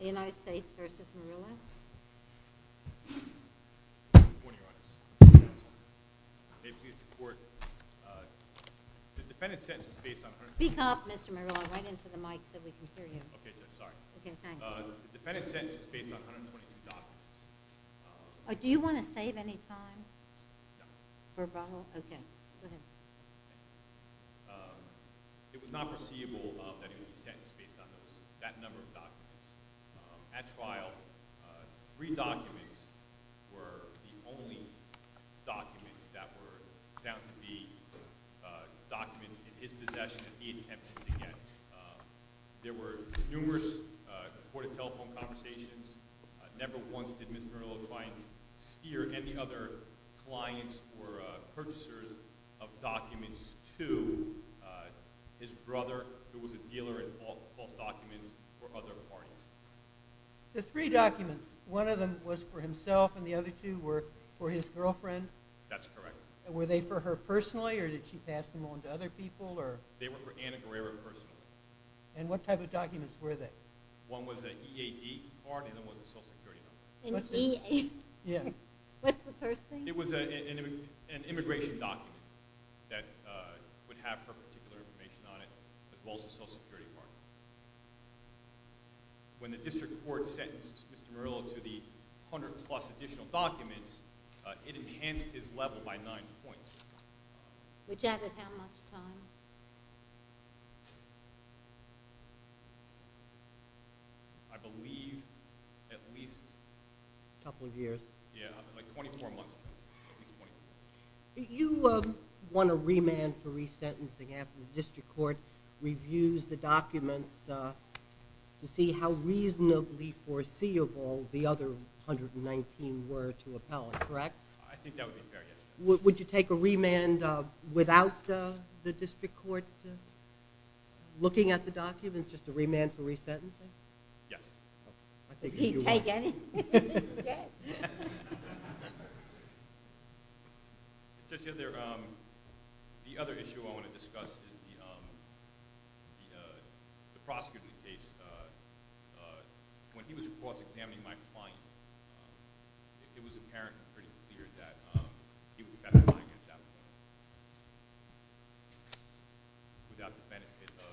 The United States vs. Murillo Good morning Your Honor May it please the court The defendant's sentence is based on Speak up Mr. Murillo I went into the mic so we can hear you Okay, I'm sorry The defendant's sentence is based on 122 documents Do you want to save any time? No Okay, go ahead It was not foreseeable that he would be sentenced Based on that number of documents At trial Three documents Were the only documents That were found to be Documents in his possession That he attempted to get There were numerous Recorded telephone conversations Never once did Mr. Murillo Try and steer any other Clients or Purchasers of documents To His brother Who was a dealer in both documents For other parties The three documents One of them was for himself and the other two were For his girlfriend? That's correct Were they for her personally or did she pass them on to other people? They were for Anna Guerrero personally And what type of documents were they? One was an EAD card And one was a social security card An EAD? What's the first thing? It was an immigration document That would have her Particular information on it As well as a social security card When the district court Sentenced Mr. Murillo to the 100 plus additional documents It enhanced his level by Nine points Which added how much time? I believe At least A couple of years Like 24 months You Want a remand for resentencing After the district court reviews The documents To see how reasonably Foreseeable the other 119 were to appellate, correct? I think that would be fair, yes Would you take a remand without The district court Looking at the documents? Just a remand for resentencing? Yes He'd take any? The other issue I want to discuss Is the Prosecutor's case When he was cross-examining my Client, it was Apparent and pretty clear that He was testifying at that point Without the benefit of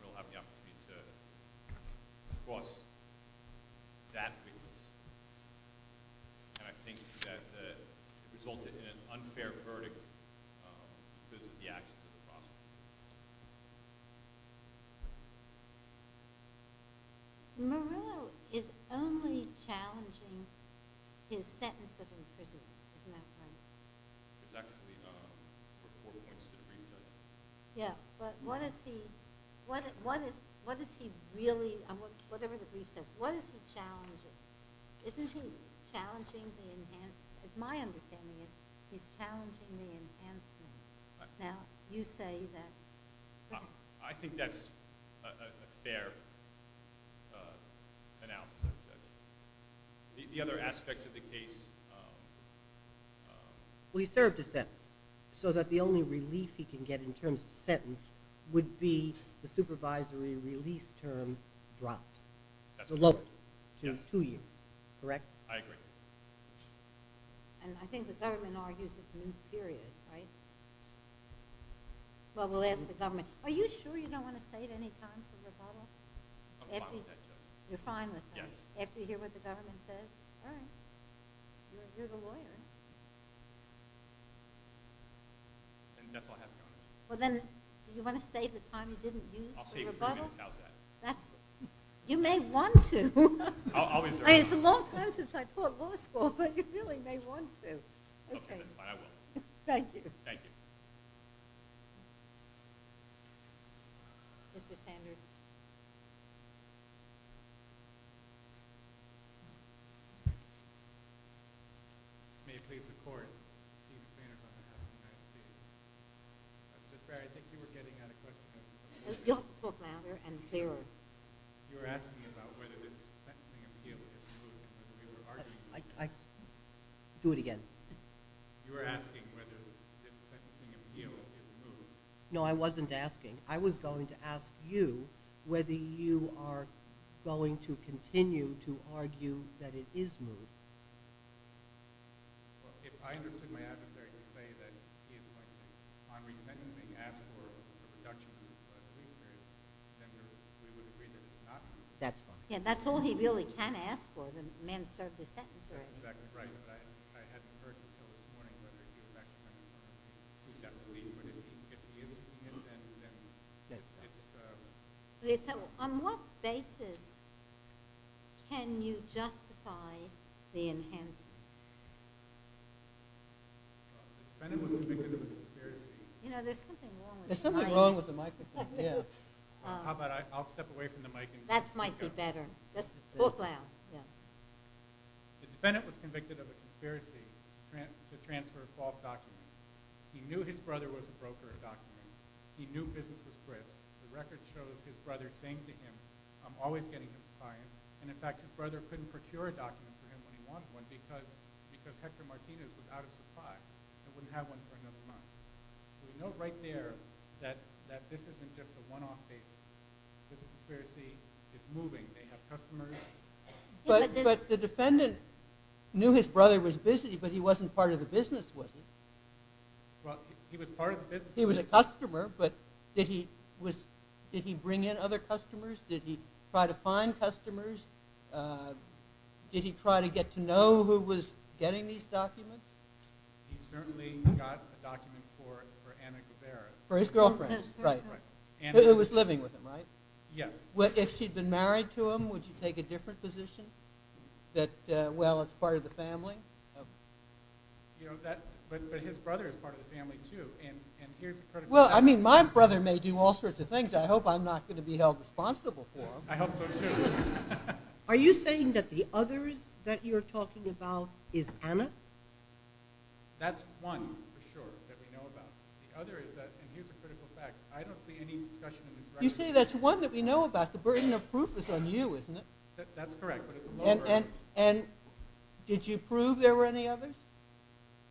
Murillo having the opportunity To cross That witness And I think that It resulted in an unfair verdict Because of the actions Of the prosecutor Murillo is only challenging His sentence Of imprisonment Exactly But what is he Really Whatever the brief says What is he challenging? Isn't he challenging My understanding is He's challenging the enhancement Now you say that I think that's A fair Announcement The other aspects of the case Well he served a sentence So that the only relief he can get In terms of sentence Would be the supervisory release Term dropped Lowered to two years Correct? I agree And I think the government argues It's a new period, right? Well we'll ask the government Are you sure you don't want to say it Any time for rebuttal? You're fine with that? After you hear what the government says? All right You're the lawyer And that's all I have for now Well then do you want to save the time you didn't use for rebuttal? I'll save a few minutes, how's that? You may want to It's a long time since I taught law school But you really may want to Okay, that's fine, I will Thank you Mr. Sanders May it please the court I think you were getting at a question You'll have to talk louder and clearer You were asking about whether this Sensing of guilt is true I Do it again You were asking whether This sensing of guilt is true No I wasn't asking I was going to ask you Whether you are Going to continue to argue That it is true If I understood my adversary To say that On resentencing Asked for a reduction We would agree that it's not true That's fine That's all he really can ask for The man who served his sentence I hadn't heard Until this morning But if he is Then it's On what basis Can you justify The enhancement The defendant was convicted of a conspiracy You know there's something wrong with the mic There's something wrong with the microphone How about I'll step away from the mic That might be better Both loud The defendant was convicted of a conspiracy To transfer false documents He knew his brother was a broker He knew business was good The record shows his brother saying to him I'm always getting his client And in fact his brother couldn't procure a document For him when he wanted one Because Hector Martinez was out of supply And wouldn't have one for another month We know right there That this isn't just a one-off case This conspiracy is moving They have customers But the defendant Knew his brother was busy But he wasn't part of the business was he Well he was part of the business He was a customer But did he bring in other customers Did he try to find customers Did he try to get to know Who was getting these documents He certainly got a document for Anna Gabera For his girlfriend Who was living with him right Yes If she'd been married to him Would you take a different position That well it's part of the family But his brother is part of the family too And here's the critical... Well I mean my brother may do all sorts of things I hope I'm not going to be held responsible for I hope so too Are you saying that the others That you're talking about is Anna That's one For sure that we know about The other is that and here's the critical fact I don't see any discussion in this record You say that's one that we know about The burden of proof is on you isn't it That's correct And did you prove there were any others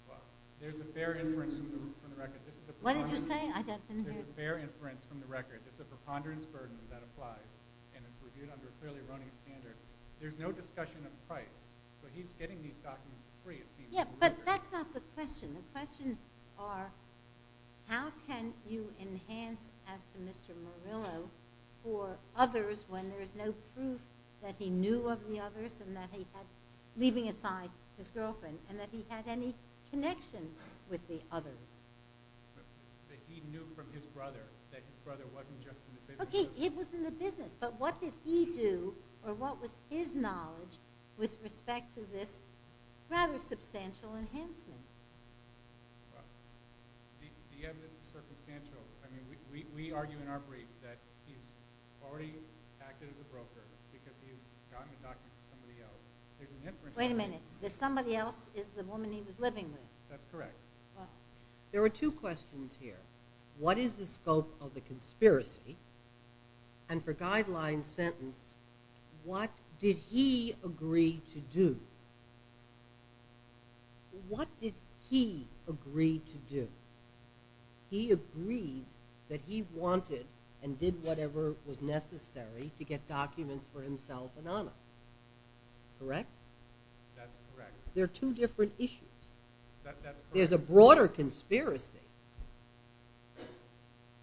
Well there's a fair inference From the record What did you say There's a fair inference from the record It's a preponderance burden that applies And it's reviewed under a clearly erroneous standard There's no discussion of price But he's getting these documents free But that's not the question The questions are How can you enhance As to Mr. Murillo For others when there's no proof That he knew of the others And that he had Leaving aside his girlfriend And that he had any connection With the others That he knew from his brother That his brother wasn't just in the business Okay he was in the business But what did he do or what was his knowledge With respect to this Rather substantial enhancement The evidence is circumstantial I mean we argue in our brief That he's already Acted as a broker Because he's gotten the documents from somebody else Wait a minute Somebody else is the woman he was living with That's correct There are two questions here What is the scope of the conspiracy And for guideline sentence What did he Agree to do What did he Agree to do He agreed that he wanted And did whatever was necessary To get documents for himself And Anna Correct There are two different issues There's a broader conspiracy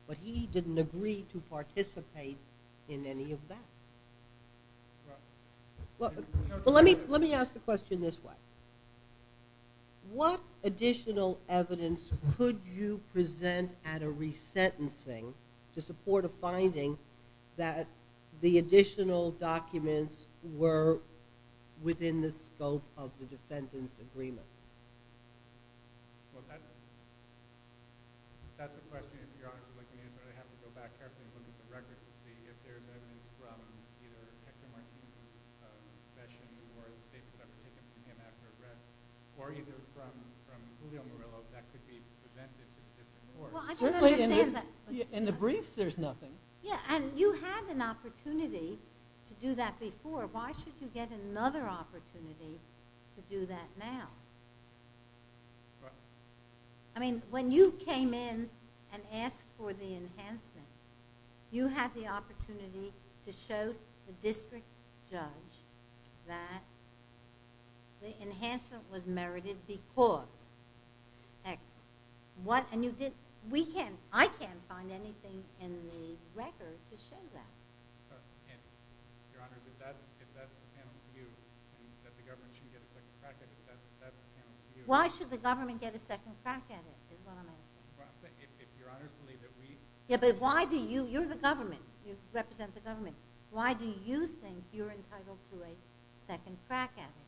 But he didn't agree to participate In any of that Let me ask the question this way What additional evidence Could you present At a resentencing To support a finding That the additional Documents were Within the scope of The defendant's agreement Well that's That's a question In the brief there's nothing And you had an opportunity To do that before Why should you get another opportunity To do that now I mean when you came in And asked for the enhancement You had the opportunity To show the district judge That The enhancement Was merited because What And you did I can't find anything in the record To show that Your Honor If that's the panel's view That the government should get a second crack at it That's the panel's view Why should the government get a second crack at it Is what I'm asking Yeah but why do you You're the government You represent the government Why do you think you're entitled to a second crack at it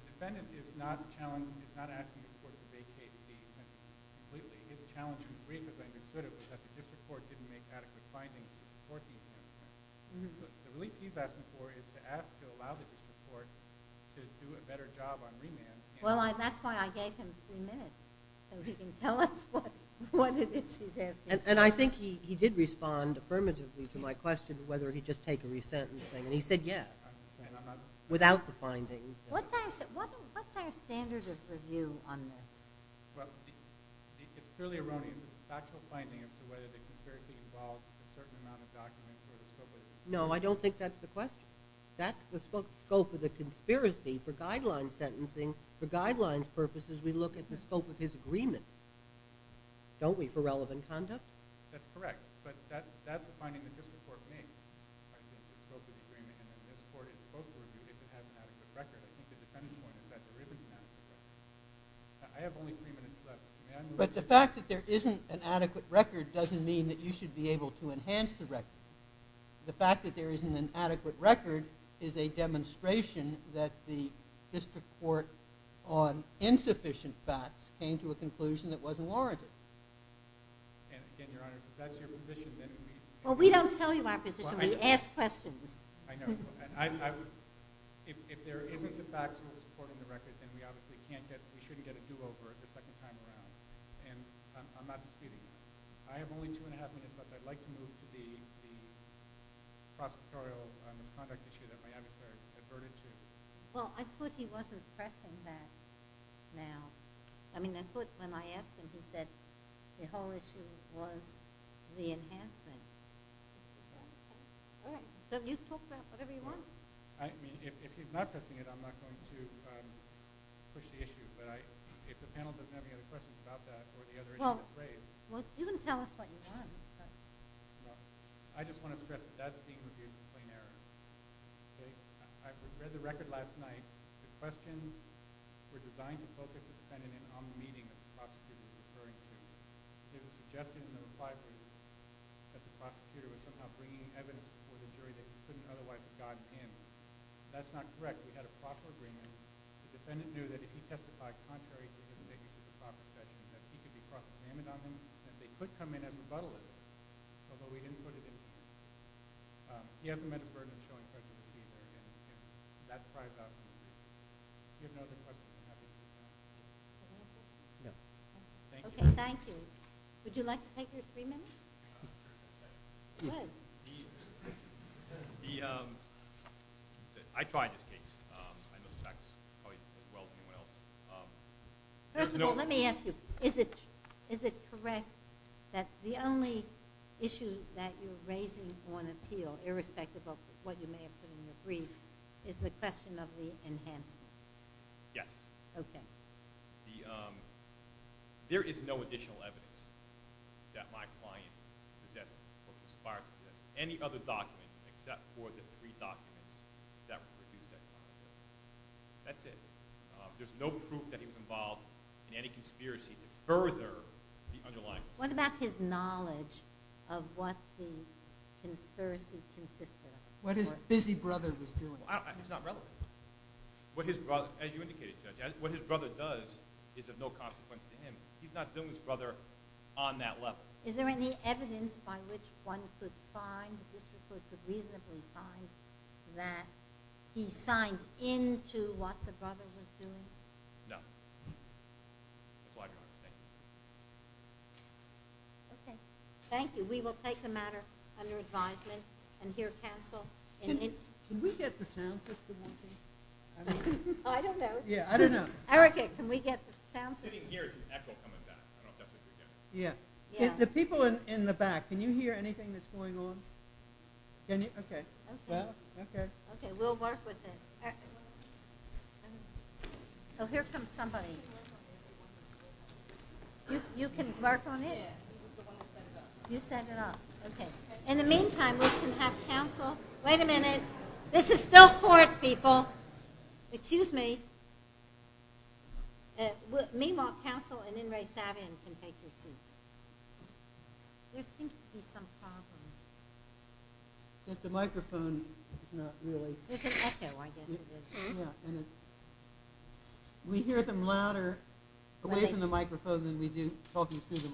The defendant is not Asking the court to vacate the case Completely His challenge in the brief as I understood it Was that the district court didn't make adequate findings To support the enhancement The relief he's asking for is to ask To allow the district court To do a better job on remand Well that's why I gave him three minutes So he can tell us what He's asking And I think he did respond affirmatively To my question whether he'd just take a re-sentencing And he said yes Without the findings What's our standard of review on this Well It's clearly erroneous It's a factual finding as to whether the conspiracy involved A certain amount of documents No I don't think that's the question That's the scope of the conspiracy For guidelines sentencing For guidelines purposes we look at the scope of his agreement Don't we For relevant conduct That's correct But that's the finding the district court made The scope of the agreement And this court is supposed to review if it has an adequate record I think the defendant's point is that there isn't an adequate record I have only three minutes left May I move But the fact that there isn't an adequate record doesn't mean That you should be able to enhance the record The fact that there isn't an adequate record Is a demonstration That the district court On insufficient facts Came to a conclusion that wasn't warranted And your honor If that's your position then we Well we don't tell you our position We ask questions I know If there isn't the factual support in the record Then we obviously can't get We shouldn't get a do over the second time around And I'm not disputing that I have only two and a half minutes left I'd like to move to the The prosecutorial misconduct issue That my adversary adverted to Well I thought he wasn't pressing that Now I mean I thought when I asked him he said The whole issue was The enhancement Okay All right so you talk about whatever you want I mean if he's not pressing it I'm not going to Push the issue but I If the panel doesn't have any other questions about that Well you can tell us what you want No I just want to stress that that's being reviewed In plain error I read the record last night The questions were designed to focus The defendant on the meeting That the prosecutor was referring to There was a suggestion in the reply That the prosecutor was somehow bringing Evidence before the jury that he couldn't otherwise Have gotten in That's not correct We had a proper agreement The defendant knew that if he testified contrary to his Procession that he could be prosecuted on him And they could come in and rebuttal it Although we didn't put it in He hasn't met a burden That's probably about it If you have no other questions Thank you Thank you Would you like to take your three minutes Good The The I tried this case I know the facts First of all let me ask you Is it correct That the only issue That you're raising on appeal Irrespective of what you may have put in the brief Is the question of the Enhancement Yes There is no additional evidence That my client Possessed Any other documents Except for the three documents That were reviewed That's it There's no proof that he was involved in any conspiracy To further the underlying What about his knowledge Of what the Conspiracy consisted of What his busy brother was doing It's not relevant What his brother Does is of no consequence to him He's not doing his brother on that level Is there any evidence By which one could find That He signed Into what the brother was doing No Thank you Thank you We will take the matter Under advisement And hear counsel Can we get the sound system I don't know Can we get the sound system The people in the back Can you hear anything That's going on Okay We'll work with it Here comes somebody You can work on it You set it up Okay In the meantime we can have counsel Wait a minute This is still court people Excuse me Meanwhile counsel Can take their seats There seems to be some problem The microphone There's an echo I guess We hear them louder Away from the microphone Than we do talking through the microphone